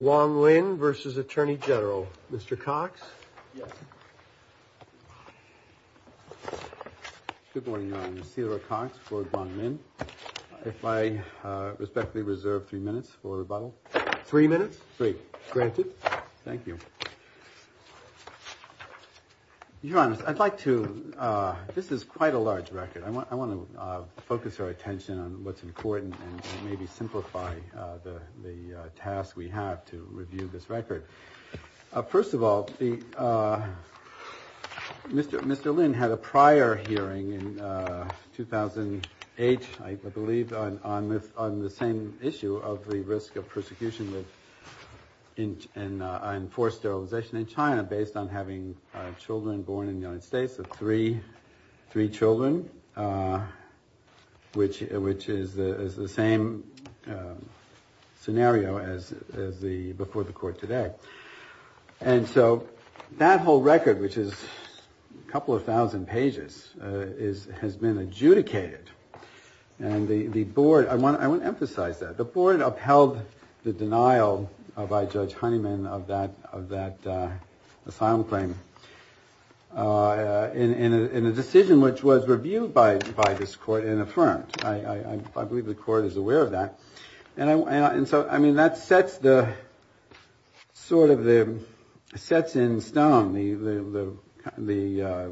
Wong Lin versus Attorney General, Mr. Cox. Good morning, Mr. Cox, if I respectfully reserve three minutes for rebuttal. Three minutes. Great. Granted. Thank you. Your Honor, I'd like to this is quite a large record. I want I want to focus our attention on what's important and maybe simplify the task we have to review this record. First of all, Mr. Lin had a prior hearing in 2008, I believe, on the same issue of the risk of persecution and enforced sterilization in China based on having children born in the United States, three children, which is the same scenario as the before the court today. And so that whole record, which is a couple of thousand pages, is has been adjudicated. And the board, I want to emphasize that the board upheld the denial by Judge Honeyman of that of that asylum claim in a decision which was and so I mean, that sets the sort of the sets in stone the the the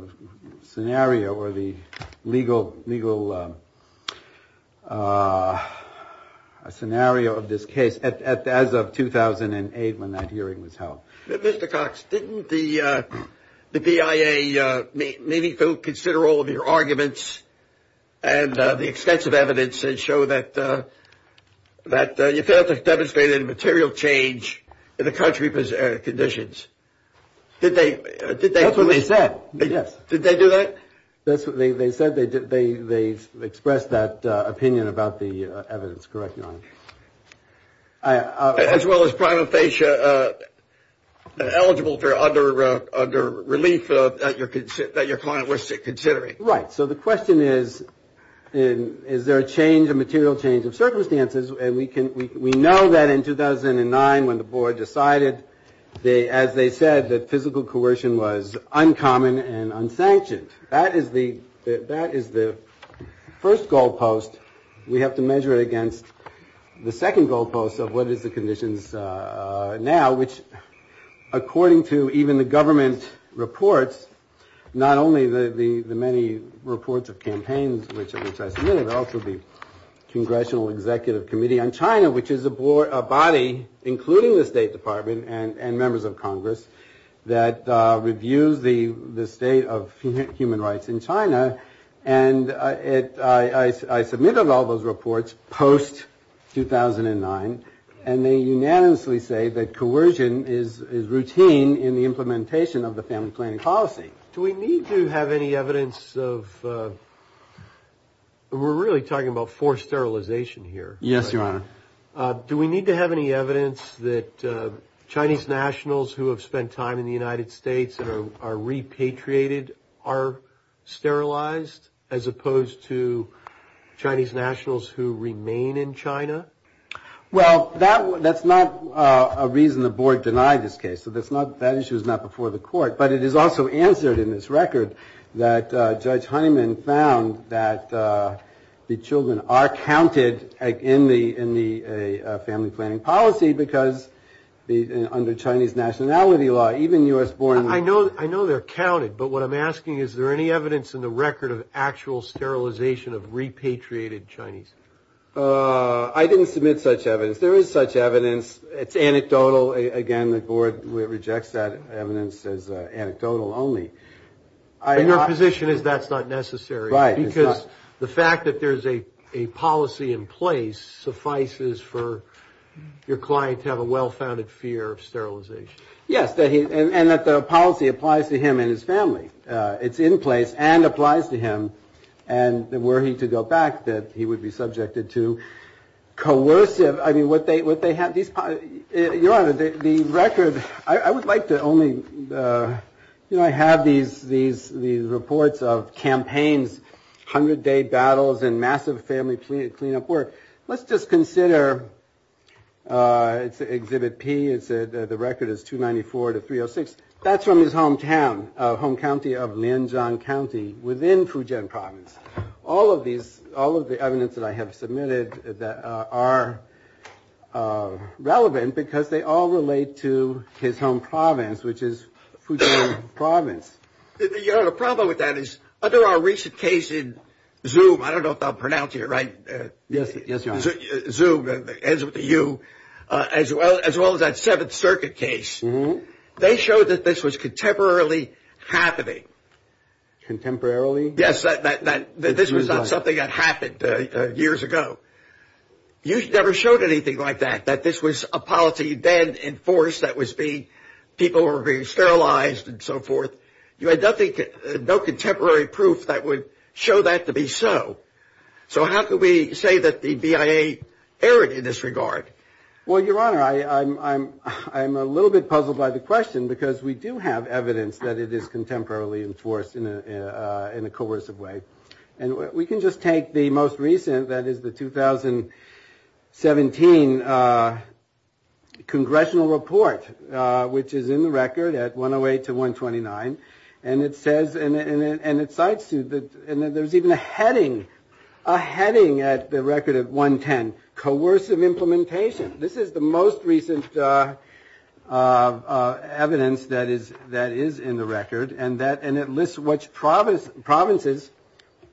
scenario or the legal legal scenario of this case as of 2008 when that hearing was held. Mr. Cox, didn't the the BIA maybe go consider all of your arguments and the extensive evidence and show that that you failed to demonstrate any material change in the country's conditions? Did they? Did they? That's what they said. Yes. Did they do that? That's what they said. They did. They they expressed that opinion about the evidence. Correct. As well as prima facie eligible for other relief that your client was considering. Right. So the question is, is there a change, a material change of circumstances? And we can we know that in 2009 when the board decided they as they said that physical coercion was uncommon and unsanctioned. That is the that is the first goalpost. We have to measure it against the second goalpost of what is the conditions now, which according to even the government reports, not only the many reports of campaigns, which I submitted also the Congressional Executive Committee on China, which is a board, a body, including the State Department and members of Congress that reviews the the state of human rights in China. And I submitted all those reports post 2009 and they unanimously say that coercion is is routine in implementation of the family planning policy. Do we need to have any evidence of we're really talking about forced sterilization here? Yes, your honor. Do we need to have any evidence that Chinese nationals who have spent time in the United States and are repatriated are sterilized as opposed to Chinese nationals who remain in China? Well, that that's not a reason the board denied this case. So that's not that issue is not before the court. But it is also answered in this record that Judge Honeyman found that the children are counted in the in the family planning policy because under Chinese nationality law, even U.S. born. I know I know they're counted, but what I'm asking, is there any evidence in the record of actual sterilization of repatriated Chinese? I didn't submit such evidence. There is such evidence. It's anecdotal. Again, the board rejects that evidence as anecdotal only. Your position is that's not necessary, right? Because the fact that there's a policy in place suffices for your client to have a well-founded fear of sterilization. Yes. And that the policy applies to him and his family. It's in place and applies to him. And were he to go back, that he would be subjected to coercive. I mean, what they what they have. These are the record. I would like to only, you know, I have these these these reports of campaigns, hundred day battles and massive family cleanup work. Let's just consider it's Exhibit P. It's the record is 294 to 306. That's from his hometown, home county of Lianjiang County within Fujian province. All of these, all of the evidence that I have submitted that are relevant because they all relate to his home province, which is Fujian province. You know, the problem with that is under our recent case in Zoom, I don't know if I'll pronounce it right. Yes. Yes. Zoom ends with a U as well as well as that Seventh Circuit case. They showed that this was contemporarily happening. Contemporarily? Yes. That that this was not something that happened years ago. You never showed anything like that, that this was a policy then enforced, that was being people were being sterilized and so forth. You had nothing, no contemporary proof that would show that to be so. So how could we say that the BIA erred in this regard? Well, Your Honor, I'm a little bit puzzled by the question because we do have evidence that it is contemporarily enforced in a coercive way. And we can just take the most recent, that is the 2017 congressional report, which is in the record at 108 to 129. And it says, and it cites to that, and then there's even a heading, a heading at the record at 110, coercive implementation. This is the most recent evidence that is in the record. And it lists which provinces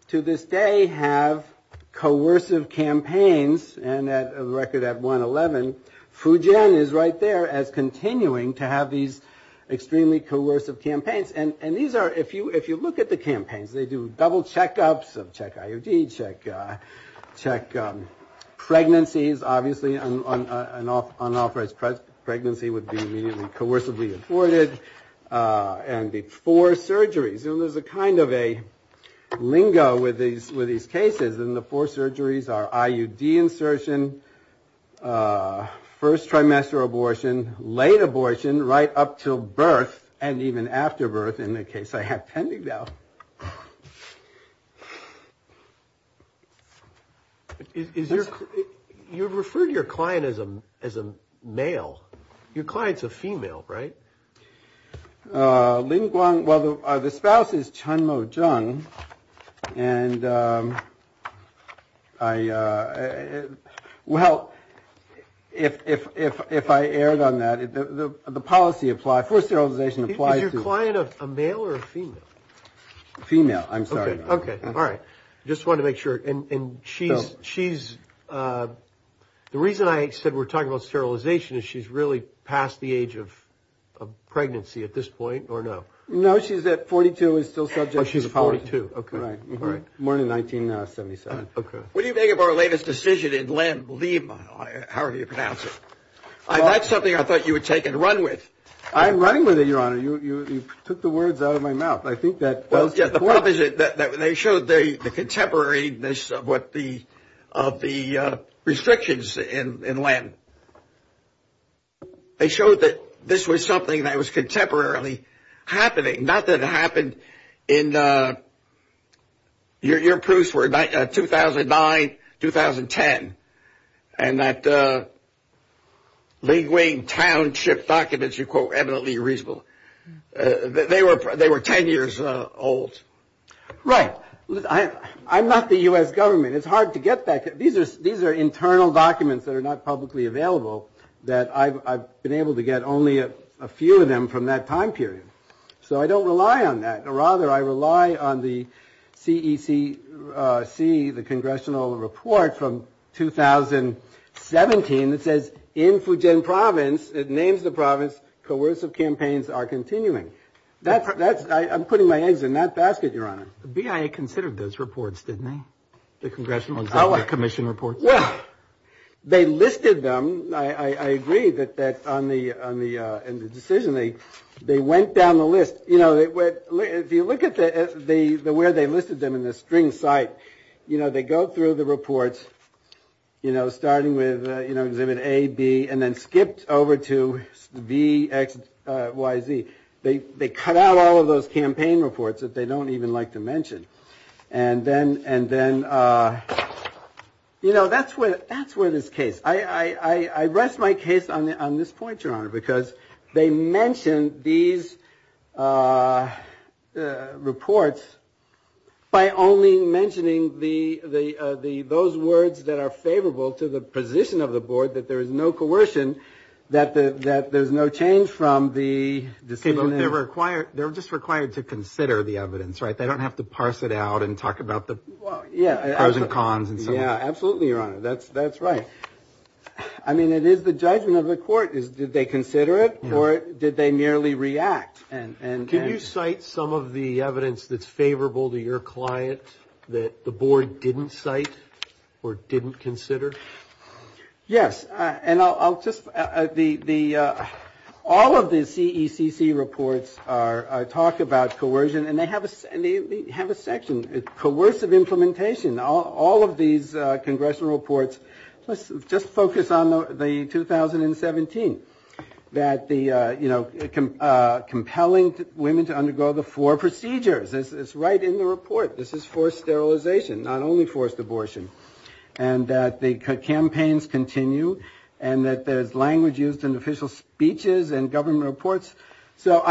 to this day have coercive campaigns. And at the record at 111, Fujian is right there as continuing to have these extremely coercive campaigns. And these are, if you look at the campaigns, they do double checkups of check IUD, check pregnancies, obviously an unauthorized pregnancy would be immediately coercively afforded. And the four surgeries, and there's a kind of a lingo with these cases, and the four surgeries are IUD insertion, first trimester abortion, late abortion, right up to birth, and even after birth, in the case I have pending now. Is your, you've referred to your client as a male. Your client's a female, right? Well, the spouse is Chen Mozheng, and I, well, if I erred on that, the policy apply, forced sterilization applies to. Is your client a male or a female? Female, I'm sorry. Okay, all right. Just wanted to make sure, and she's, the reason I said we're talking about sterilization is she's really past the age of pregnancy at this point, or no? No, she's at 42, is still subject. Oh, she's a 42, okay. Right, more than 1977. Okay. What do you think of our latest decision in Lima? How do you pronounce it? That's something I thought you would take and run with. I'm running with it, Your Honor. You took the words out of my mouth. I think that. The problem is that they showed the contemporaneous of what the, of the restrictions in land. They showed that this was something that was contemporarily happening, not that it happened in, your proofs were 2009, 2010, and that any township documents, you quote eminently reasonable. They were 10 years old. Right. I'm not the US government. It's hard to get back. These are internal documents that are not publicly available, that I've been able to get only a few of them from that time period. So I don't rely on that. Rather, I rely on the congressional report from 2017 that says, in Fujian province, it names the province, coercive campaigns are continuing. I'm putting my eggs in that basket, Your Honor. The BIA considered those reports, didn't they? The congressional commission reports? Well, they listed them. I agree that on the decision, they went down the list. If you look where they listed them in the string site, they go through the reports starting with exhibit A, B, and then skipped over to B, X, Y, Z. They cut out all of those campaign reports that they don't even like to mention. And then that's where this case. I rest my case on this point, Your Honor, because they mentioned these reports by only mentioning those words that are favorable to the position of the board, that there is no coercion, that there's no change from the decision. They're just required to consider the evidence, right? They don't have to parse it out and talk about the pros and cons and so on. Yeah, absolutely, Your Honor. That's right. I mean, it is the judgment of the court. Did they consider it or did they merely react? Can you cite some of the evidence that's favorable to your client that the board didn't cite or didn't consider? Yes. All of the CECC reports talk about coercion and they have a section, coercive implementation. All of these congressional reports, let's just focus on the 2017, that compelling women to undergo the four procedures. It's right in the report. This is forced sterilization, not only forced abortion. And that the campaigns continue and that there's language used in official speeches and government reports. So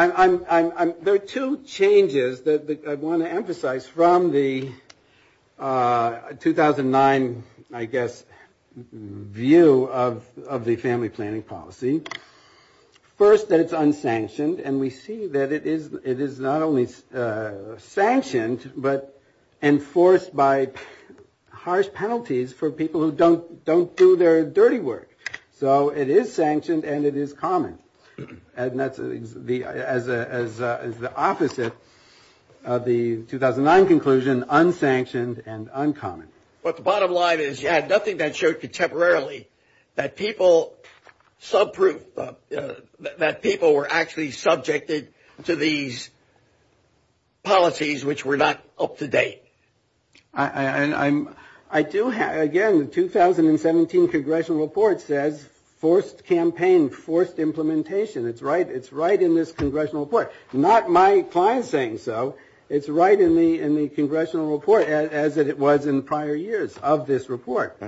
there are two changes that I want to emphasize from the 2009, I guess, view of the family planning policy. First, that it's unsanctioned and we see that it is not only sanctioned but enforced by harsh penalties for people who don't do their dirty work. So it is sanctioned and it is common. And that's the opposite of the 2009 conclusion, unsanctioned and uncommon. But the bottom line is you had nothing that showed contemporarily that people, subproof, that people were actually subjected to these policies which were not up to date. I do have, again, the 2017 congressional report says forced campaign, forced implementation. It's right in this congressional report. Not my client saying so. It's right in the congressional report as it was in prior years of this report.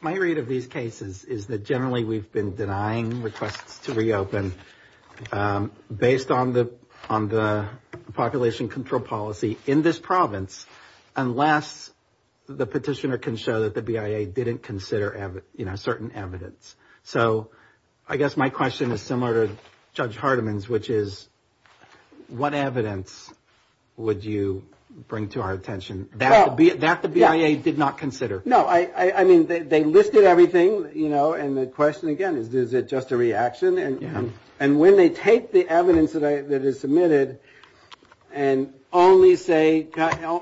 My read of these cases is that generally we've been denying requests to reopen based on the population control policy in this province unless the petitioner can show that the BIA didn't consider certain evidence. So I guess my question is similar to Judge Hardeman's, which is what evidence would you bring to our attention that the BIA did not consider? No, I mean, they listed everything, you know, and the question again is, is it just a reaction? And when they take the evidence that is submitted and only say,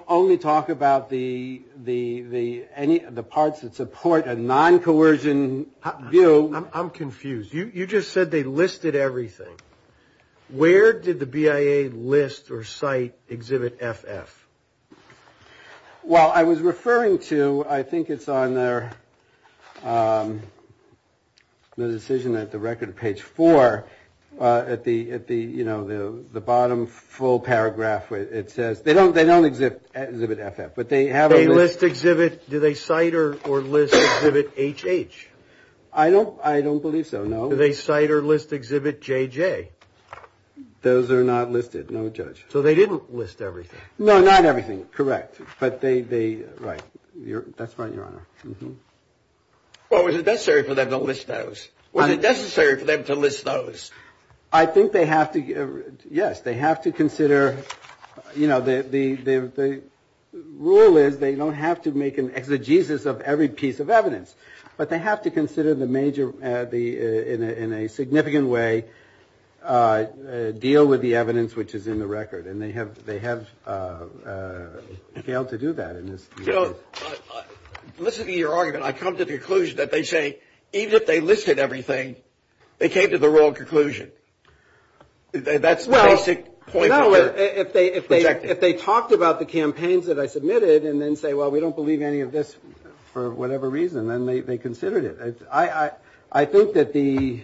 only talk about the parts that support a non-coercion view. I'm confused. You just said they listed everything. Where did the BIA list or cite exhibit FF? Well, I was referring to, I think it's on their decision at the record page four at the, you know, the bottom full paragraph where it says, they don't exhibit FF, but they have a list. They list exhibit, do they cite or list exhibit HH? I don't believe so, no. Do they cite or list exhibit JJ? Those are not listed, no, Judge. So they didn't list everything? No, not everything, correct, but they, right, that's right, Your Honor. Well, was it necessary for them to list those? Was it necessary for them to list those? I think they have to, yes, they have to consider, you know, the rule is they don't have to make an exegesis of every piece of evidence, but they have to consider the major, in a significant way, deal with the evidence which is in the record, and they have failed to do that. You know, listening to your argument, I come to the conclusion that they say, even if they listed everything, they came to the wrong conclusion. That's the basic point. No, if they talked about the campaigns that I submitted and then say, well, we don't believe any of this for whatever reason, then they considered it. I think that the,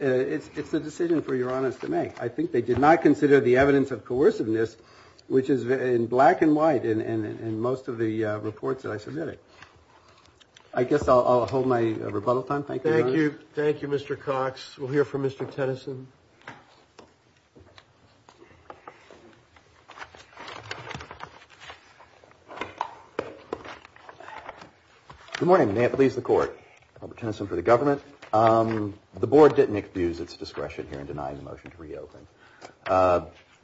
it's a decision for Your Honor to make. I think they did not consider the evidence of coerciveness, which is in black and white in most of the reports that I submitted. I guess I'll hold my rebuttal time. Thank you, Your Honor. Thank you, Mr. Cox. We'll hear from Mr. Tennyson. Good morning. May it please the Court. Robert Tennyson for the government. The Board didn't excuse its discretion here in denying the motion to reopen.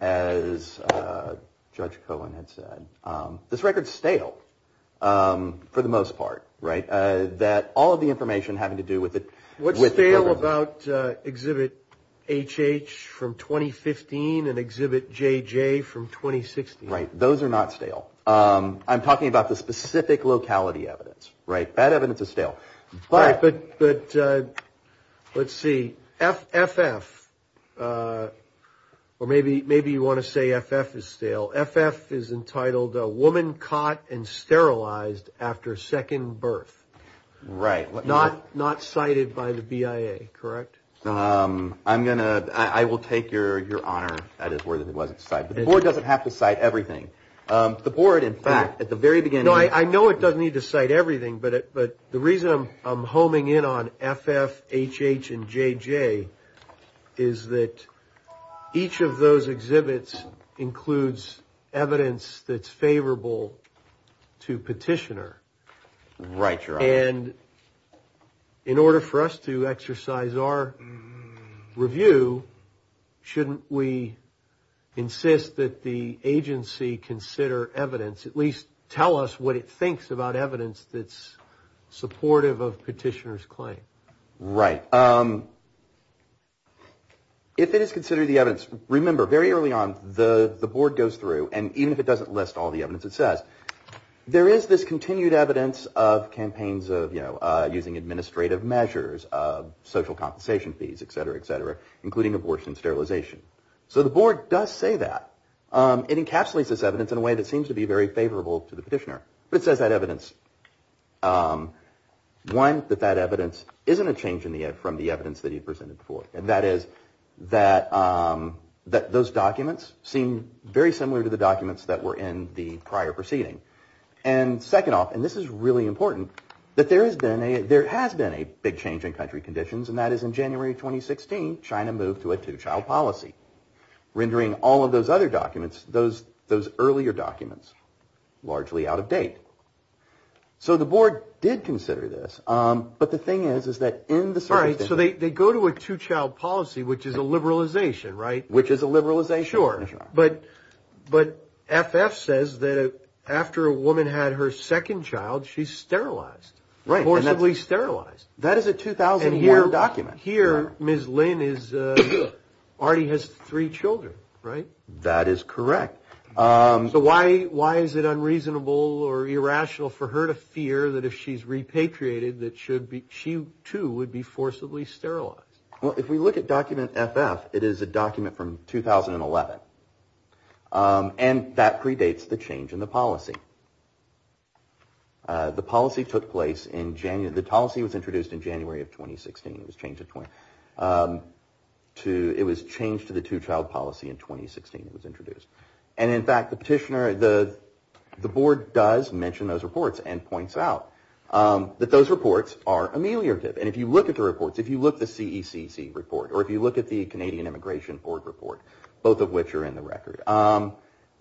As Judge Cohen had said, this record's stale for the most part, right? That all of the information having to do with it. What's stale about Exhibit HH from 2015 and Exhibit JJ from 2016? Right. Those are not stale. I'm talking about the specific locality evidence, right? That evidence is stale. But let's see, FF, or maybe you want to say FF is stale. FF is entitled a woman caught and sterilized after second birth. Right. Not cited by the BIA, correct? I'm going to, I will take your honor. That is where it wasn't cited. The Board doesn't have to cite everything. The Board, in fact, at the very beginning... No, I know it doesn't need to cite everything, but the reason I'm homing in on FF, HH, and JJ is that each of those exhibits includes evidence that's favorable to petitioner. Right, your honor. And in order for us to exercise our review, shouldn't we insist that the agency consider evidence, at least tell us what it thinks about evidence that's supportive of petitioner's claim? Right. If it is considered the evidence, remember very early on, the Board goes through, and even if it doesn't list all the evidence it says, there is this continued evidence of campaigns of using administrative measures, of social compensation fees, et cetera, et cetera, including abortion sterilization. So the Board does say that. It encapsulates this evidence in a way that seems to be very favorable to the petitioner. But it says that evidence, one, that that evidence isn't a change from the evidence that he presented before. And that is that those documents seem very similar to the documents that were in the preceding. And second off, and this is really important, that there has been a big change in country conditions, and that is in January 2016, China moved to a two-child policy, rendering all of those other documents, those earlier documents, largely out of date. So the Board did consider this. But the thing is, is that in the circumstance... All right, so they go to a two-child policy, which is a liberalization, right? Which is a liberalization. Sure. But FF says that after a woman had her second child, she's sterilized, forcibly sterilized. That is a 2001 document. Here, Ms. Lin already has three children, right? That is correct. So why is it unreasonable or irrational for her to fear that if she's repatriated, that she too would be forcibly sterilized? Well, if we look at document FF, it is a document from 2011. And that predates the change in the policy. The policy took place in January. The policy was introduced in January of 2016. It was changed to the two-child policy in 2016. It was introduced. And in fact, the petitioner, the Board does mention those reports and points out that those reports are ameliorative. And if you look at the reports, if you look at the CECC report, or if you look at the Canadian Immigration Board report, both of which are in the record,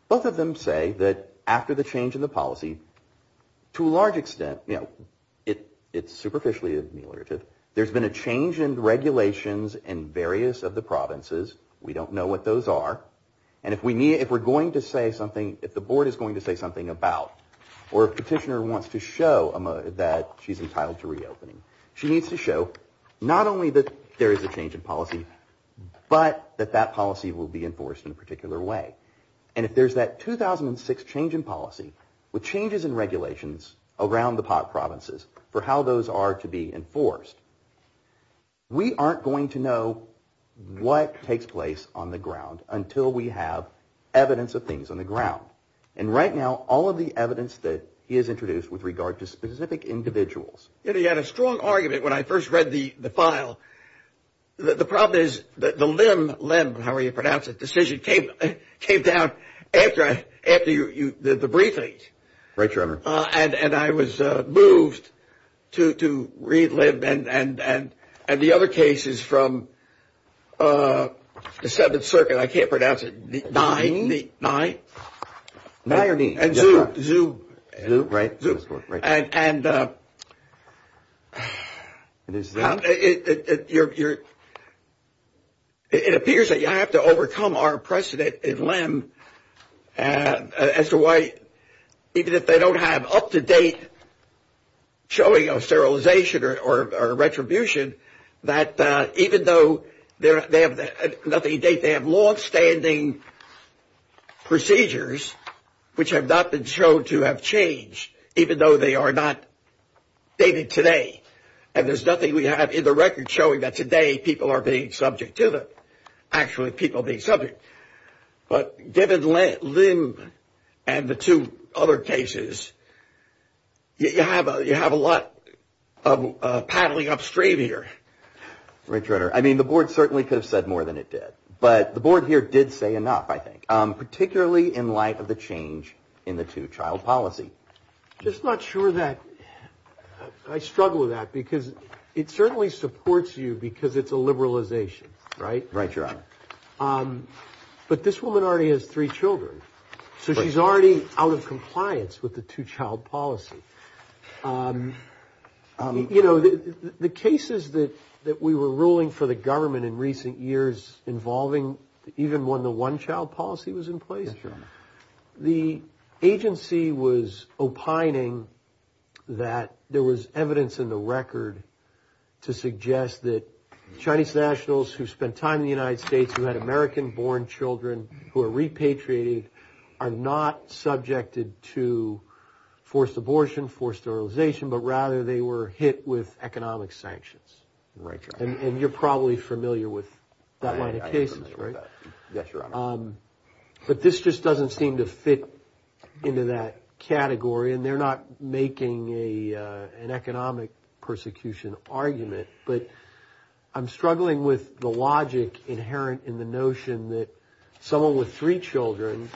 both of them say that after the change in the policy, to a large extent, it's superficially ameliorative. There's been a change in regulations in various of the provinces. We don't know what those are. And if we're going to say something, if the Board is going to say something about, or if the petitioner wants to show that she's entitled to reopening, she needs to show not only that there is a change in policy, but that that policy will be enforced in a particular way. And if there's that 2006 change in policy, with changes in regulations around the pot provinces, for how those are to be enforced, we aren't going to know what takes place on the ground until we have evidence of things on the ground. And right now, all of the evidence that is introduced with regard to specific individuals. You know, you had a strong argument when I first read the file. The problem is that the limb, limb, however you pronounce it, decision came, came down after, after you, you did the briefing. Right, Trevor. Uh, and, and I was, uh, moved to, to read limb and, and, and, and the other cases from, uh, the Seventh Circuit, I can't pronounce it, nine, nine. Nine or nine. And zoo, zoo, zoo. Right, right. And, and, uh, it, it, it, you're, you're, it appears that you have to overcome our precedent in limb as to why, even if they don't have up to date showing of sterilization or, or retribution that, uh, even though they're, they have nothing to date, they have longstanding procedures, which have not been shown to have changed, even though they are not dated today. And there's nothing we have in the record showing that today people are being subject to the, actually people being subject. But given the limb and the two other cases, you have a, you have a lot of, uh, paddling upstream here. Right, Trevor. I mean, the board certainly could have said more than it did, but the board here did say enough, I think, um, particularly in light of the change in the two child policy. Just not sure that I struggle with that because it certainly supports you because it's a liberalization, right? Right, Your Honor. Um, but this woman already has three children, so she's already out of compliance with the two child policy. Um, you know, the, the cases that, that we were ruling for the government in recent years involving even when the one child policy was in place, the agency was opining that there was evidence in the record to suggest that Chinese nationals who spent time in the United States who had American born children who are repatriated are not subjected to forced abortion, forced sterilization, but rather they were hit with economic sanctions. Right, Your Honor. And you're probably familiar with that line of cases, right? Yes, Your Honor. Um, but this just doesn't seem to fit into that category and they're not making a, uh, an economic persecution argument, but I'm struggling with the logic inherent in the notion that someone with three children,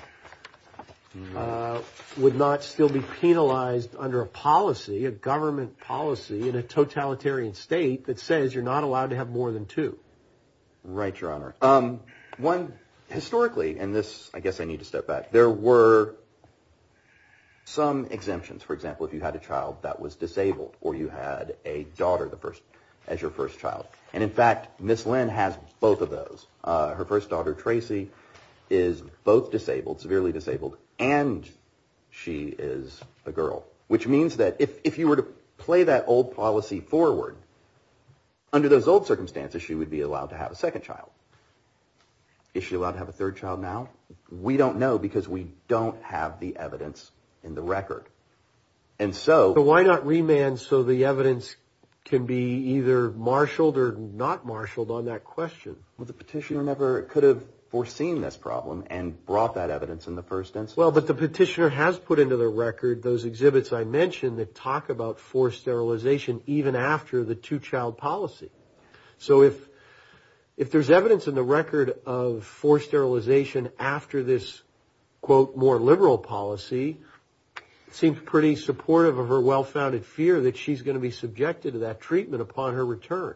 uh, would not still be penalized under a policy, a government policy in a totalitarian state that says you're not allowed to have more than two. Right, Your Honor. Um, one historically, and this, I guess I need to step back. There were some exemptions. For example, if you had a child that was disabled or you had a daughter, the first, as your first child. And in fact, Ms. Lin has both of those. Uh, her first daughter, Tracy is both disabled, severely disabled, and she is a girl, which means that if, if you were to play that old policy forward under those old circumstances, she would be allowed to have a second child. Is she allowed to have a third child now? We don't know because we don't have the evidence in the record. And so why not remand so the evidence can be either marshaled or not marshaled on that question? Well, the petitioner never could have foreseen this problem and brought that evidence in the first instance. But the petitioner has put into the record those exhibits I mentioned that talk about forced sterilization even after the two-child policy. So if, if there's evidence in the record of forced sterilization after this, quote, more liberal policy, it seems pretty supportive of her well-founded fear that she's going to be subjected to that treatment upon her return.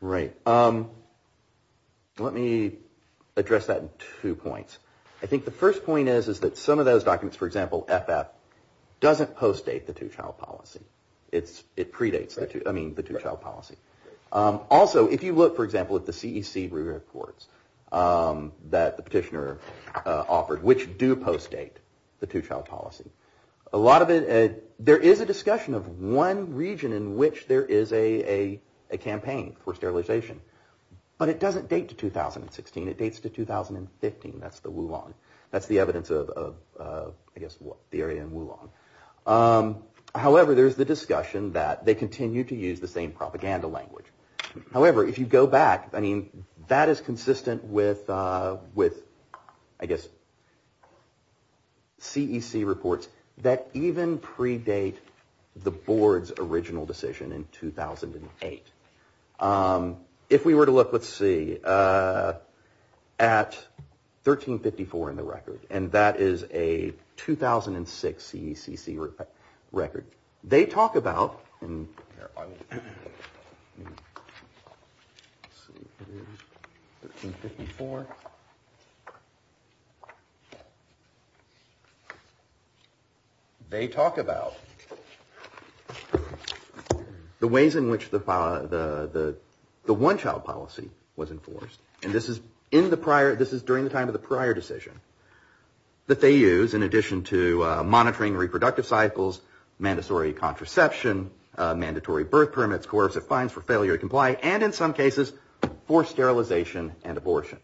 Right. Um, let me address that in two points. I think the first point is, is that some of those documents, for example, FF, doesn't post-date the two-child policy. It's, it predates the two, I mean, the two-child policy. Also, if you look, for example, at the CEC reports that the petitioner offered, which do post-date the two-child policy, a lot of it, there is a discussion of one region in which there is a, a campaign for sterilization. But it doesn't date to 2016. It dates to 2015. That's the Wulong. That's the evidence of, I guess, the area in Wulong. However, there's the discussion that they continue to use the same propaganda language. However, if you go back, I mean, that is consistent with, with, I guess, CEC reports that even predate the board's original decision in 2008. If we were to look, let's see, at 1354 in the record, and that is a 2006 CECC record, they talk about, let's see, 1354, they talk about the ways in which the one-child policy was enforced. And this is in the prior, this is during the time of the prior decision that they use in reproductive cycles, mandatory contraception, mandatory birth permits, coercive fines for failure to comply, and in some cases, forced sterilization and abortion.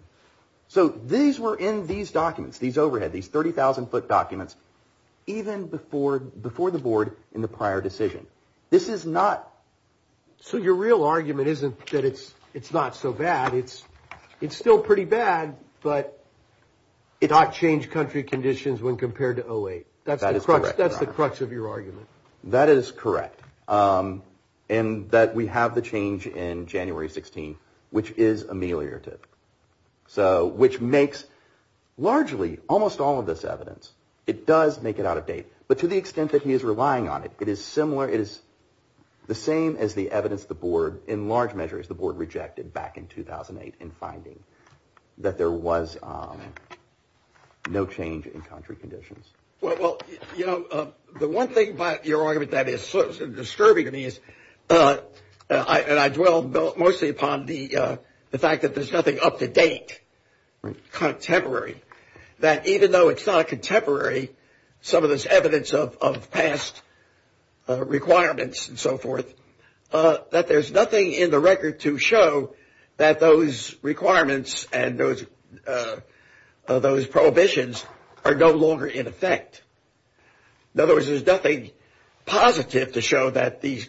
So these were in these documents, these overhead, these 30,000-foot documents, even before, before the board in the prior decision. This is not, so your real argument isn't that it's, it's not so bad. It's, it's still pretty bad, but it ought to change country conditions when compared to 08. That's the crutch of your argument. That is correct. And that we have the change in January 16, which is ameliorative. So, which makes largely, almost all of this evidence, it does make it out of date. But to the extent that he is relying on it, it is similar, it is the same as the evidence the board, in large measure, as the board rejected back in 2008 in finding that there was no change in country conditions. Well, you know, the one thing about your argument that is sort of disturbing to me is, and I dwell mostly upon the fact that there's nothing up to date, contemporary, that even though it's not contemporary, some of this evidence of past requirements and so forth, that there's nothing in the record to show that those requirements and those, those prohibitions are no longer in effect. In other words, there's nothing positive to show that these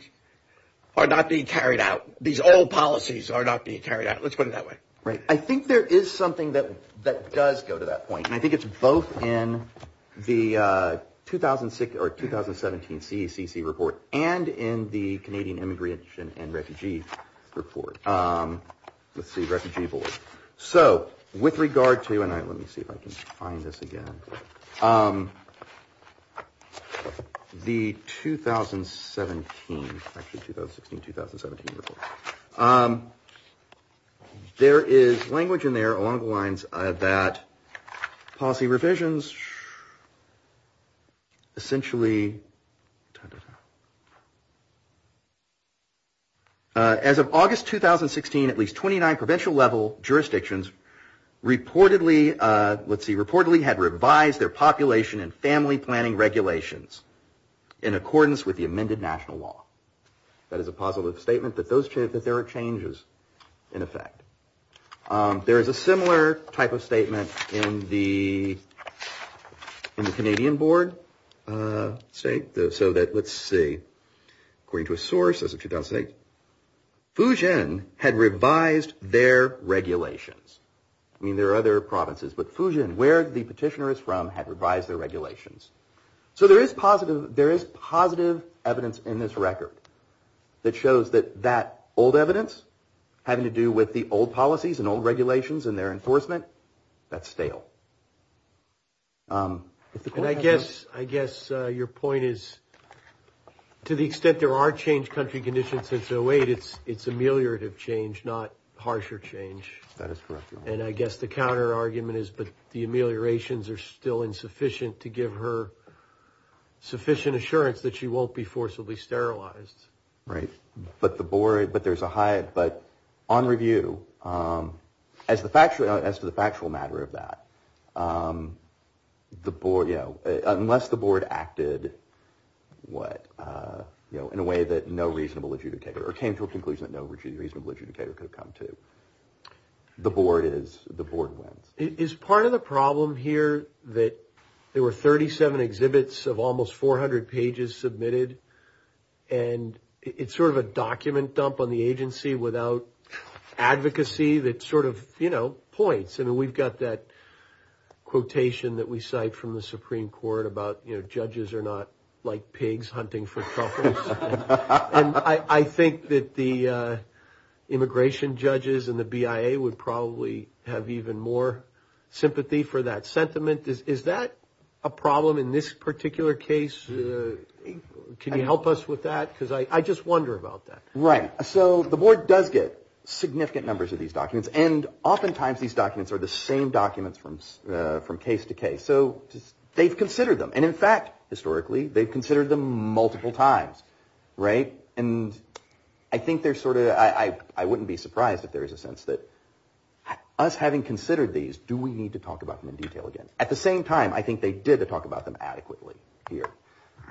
are not being carried out. These old policies are not being carried out. Let's put it that way. Right. I think there is something that, that does go to that point. And I think it's both in the 2006 or 2017 CECC report and in the Canadian Immigration and Refugee Report. Let's see, Refugee Board. So with regard to, and let me see if I can find this again, the 2017, actually 2016-2017 report, there is language in there along the lines that policy revisions essentially, as of August 2016, at least 29 provincial level jurisdictions reportedly, let's see, reportedly had revised their population and family planning regulations in accordance with the amended national law. That is a positive statement that those, that there are changes in effect. There is a similar type of statement in the, in the Canadian board, say, so that, let's see, according to a source as of 2008, Fujian had revised their regulations. I mean, there are other provinces, but Fujian, where the petitioner is from, had revised their regulations. So there is positive, there is positive evidence in this record that shows that that old evidence having to do with the old policies and old regulations and their enforcement, that's stale. And I guess, I guess your point is, to the extent there are changed country conditions since 2008, it's, it's ameliorative change, not harsher change. That is correct. And I guess the counter argument is, but the ameliorations are still insufficient to give her sufficient assurance that she won't be forcibly sterilized. Right. But the board, but there's a high, but on review, as the factual, as to the factual matter of that, the board, you know, unless the board acted, what, you know, in a way that no reasonable adjudicator or came to a conclusion that no reasonable adjudicator could have come to, the board is, the board wins. Is part of the problem here that there were 37 exhibits of almost 400 pages submitted and it's sort of a document dump on the agency without advocacy that sort of, you know, points. And we've got that quotation that we cite from the Supreme Court about, you know, judges are not like pigs hunting for truffles. And I think that the immigration judges and the BIA would probably have even more sympathy for that sentiment. Is that a problem in this particular case? Can you help us with that? Because I just wonder about that. Right. So the board does get significant numbers of these documents. And oftentimes, these documents are the same documents from case to case. So they've considered them. And in fact, historically, they've considered them multiple times, right? And I think they're sort of, I wouldn't be surprised if there is a sense that us having considered these, do we need to talk about them in detail again? At the same time, I think they did talk about them adequately here.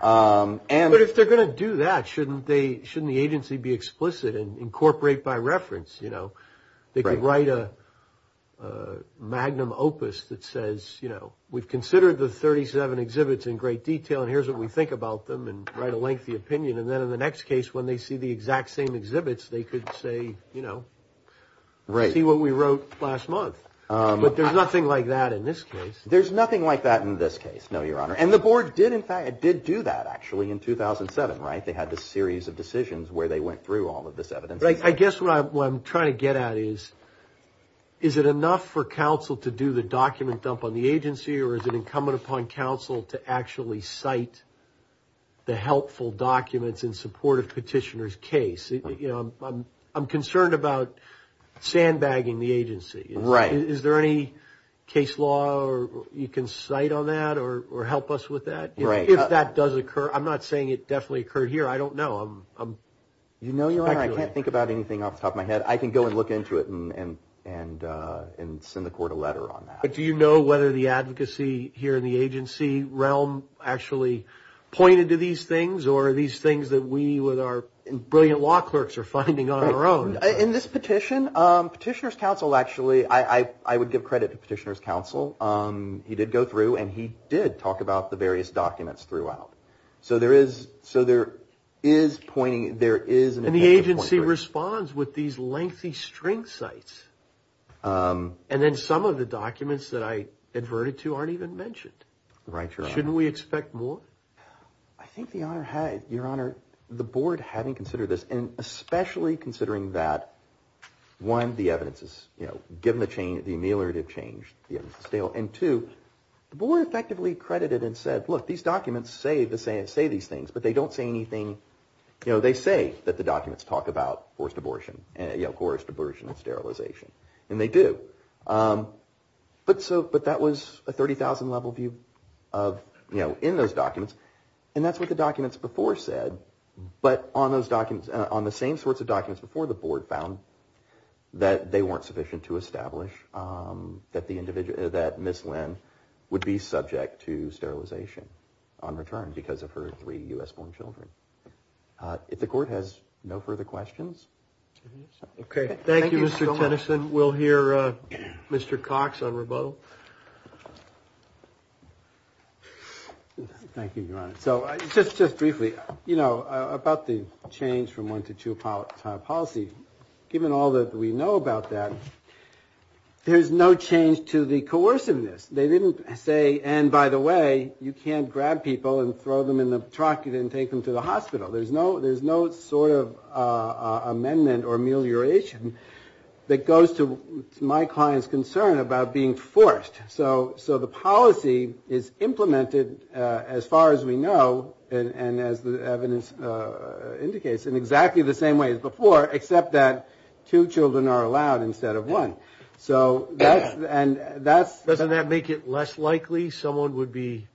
But if they're going to do that, shouldn't they, shouldn't the agency be explicit and incorporate by reference? They could write a magnum opus that says, you know, we've considered the 37 exhibits in great detail. And here's what we think about them and write a lengthy opinion. And then in the next case, when they see the exact same exhibits, they could say, you know, see what we wrote last month. But there's nothing like that in this case. There's nothing like that in this case. No, Your Honor. And the board did in fact, did do that actually in 2007, right? They had this series of decisions where they went through all of this evidence. I guess what I'm trying to get at is, is it enough for counsel to do the document dump on the agency or is it incumbent upon counsel to actually cite the helpful documents in support of petitioner's case? I'm concerned about sandbagging the agency. Is there any case law you can cite on that or help us with that? If that does occur, I'm not saying it definitely occurred here. I don't know. You know, Your Honor. I can't think about anything off the top of my head. I can go and look into it and send the court a letter on that. But do you know whether the advocacy here in the agency realm actually pointed to these things or are these things that we with our brilliant law clerks are finding on our own? In this petition, petitioner's counsel actually, I would give credit to petitioner's counsel. He did go through and he did talk about the various documents throughout. So there is, so there is pointing. There is and the agency responds with these lengthy string sites. And then some of the documents that I adverted to aren't even mentioned. Right. Shouldn't we expect more? I think the honor had, Your Honor, the board hadn't considered this. And especially considering that one, the evidence is, you know, given the change, the ameliorative change, the evidence is stale. And two, the board effectively credited and said, look, these documents say these things, but they don't say anything. You know, they say that the documents talk about forced abortion and, you know, forced abortion and sterilization. And they do. But that was a 30,000 level view of, you know, in those documents. And that's what the documents before said. But on those documents, on the same sorts of documents before the board found that they weren't sufficient to establish that the individual, that Ms. Lin would be subject to sterilization on return because of her three U.S. born children. If the court has no further questions. Okay. Thank you, Mr. Tennyson. We'll hear Mr. Cox on rebuttal. Thank you, Your Honor. So just briefly, you know, about the change from one to two policy, given all that we know about that, there's no change to the coerciveness. They didn't say, and by the way, you can't grab people and throw them in the truck and take them to the hospital. There's no sort of amendment or amelioration that goes to my client's concern about being forced. So the policy is implemented as far as we know, and as the evidence indicates, in exactly the same way as before, except that two children are allowed instead of one. So that's, and that's. Doesn't that make it less likely someone would be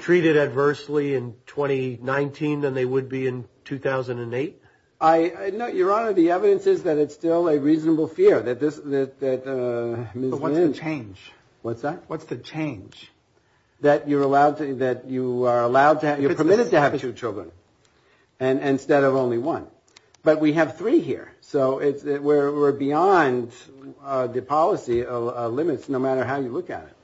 treated adversely in 2019 than they would be in 2008? I know, Your Honor. The evidence is that it's still a reasonable fear that this, that Ms. Lynch. But what's the change? What's that? What's the change? That you're allowed to, that you are allowed to, you're permitted to have two children. And instead of only one. But we have three here. So it's, we're beyond the policy limits, no matter how you look at it.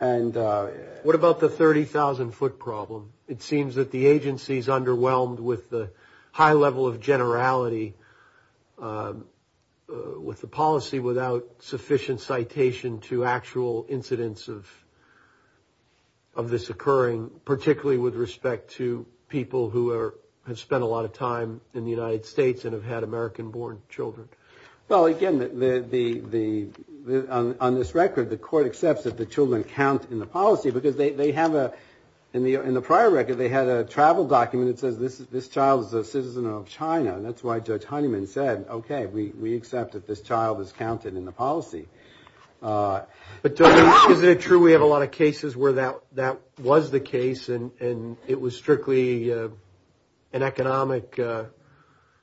And what about the 30,000 foot problem? It seems that the agency's underwhelmed with the high level of generality with the policy without sufficient citation to actual incidents of, of this occurring, particularly with respect to people who are, have spent a lot of time in the United States and have had American born children. Well, again, the, the, the, the, on, on this record, the court accepts that the children count in the policy because they, they have a, in the, in the prior record, they had a travel document that says this, this child is a citizen of China. And that's why Judge Honeyman said, okay, we, we accept that this child is counted in the policy. But is it true we have a lot of cases where that, that was the case and, and it was strictly an economic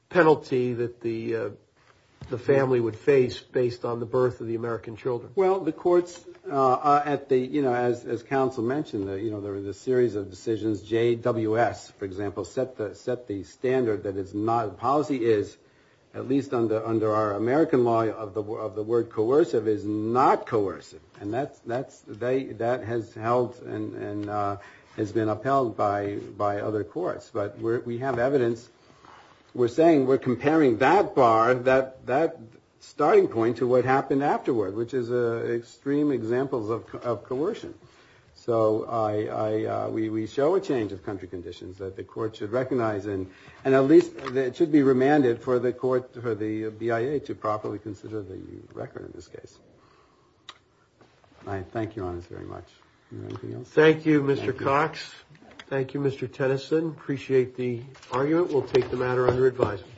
penalty that the, the family would face based on the birth of the American children? Well, the courts at the, you know, as, as counsel mentioned that, you know, there was a series of decisions, JWS, for example, set the, set the standard that it's not, policy is at least under, under our American law of the, of the word coercive is not coercive. And that's, that's, they, that has held and, and has been upheld by, by other courts. But we're, we have evidence, we're saying we're comparing that bar, that, that starting point to what happened afterward, which is extreme examples of, of coercion. So I, I, we, we show a change of country conditions that the court should recognize and, and at least it should be remanded for the court, for the BIA to properly consider the record in this case. I thank you on this very much. Thank you, Mr. Cox. Thank you, Mr. Tennyson. Appreciate the argument. We'll take the matter under advisement.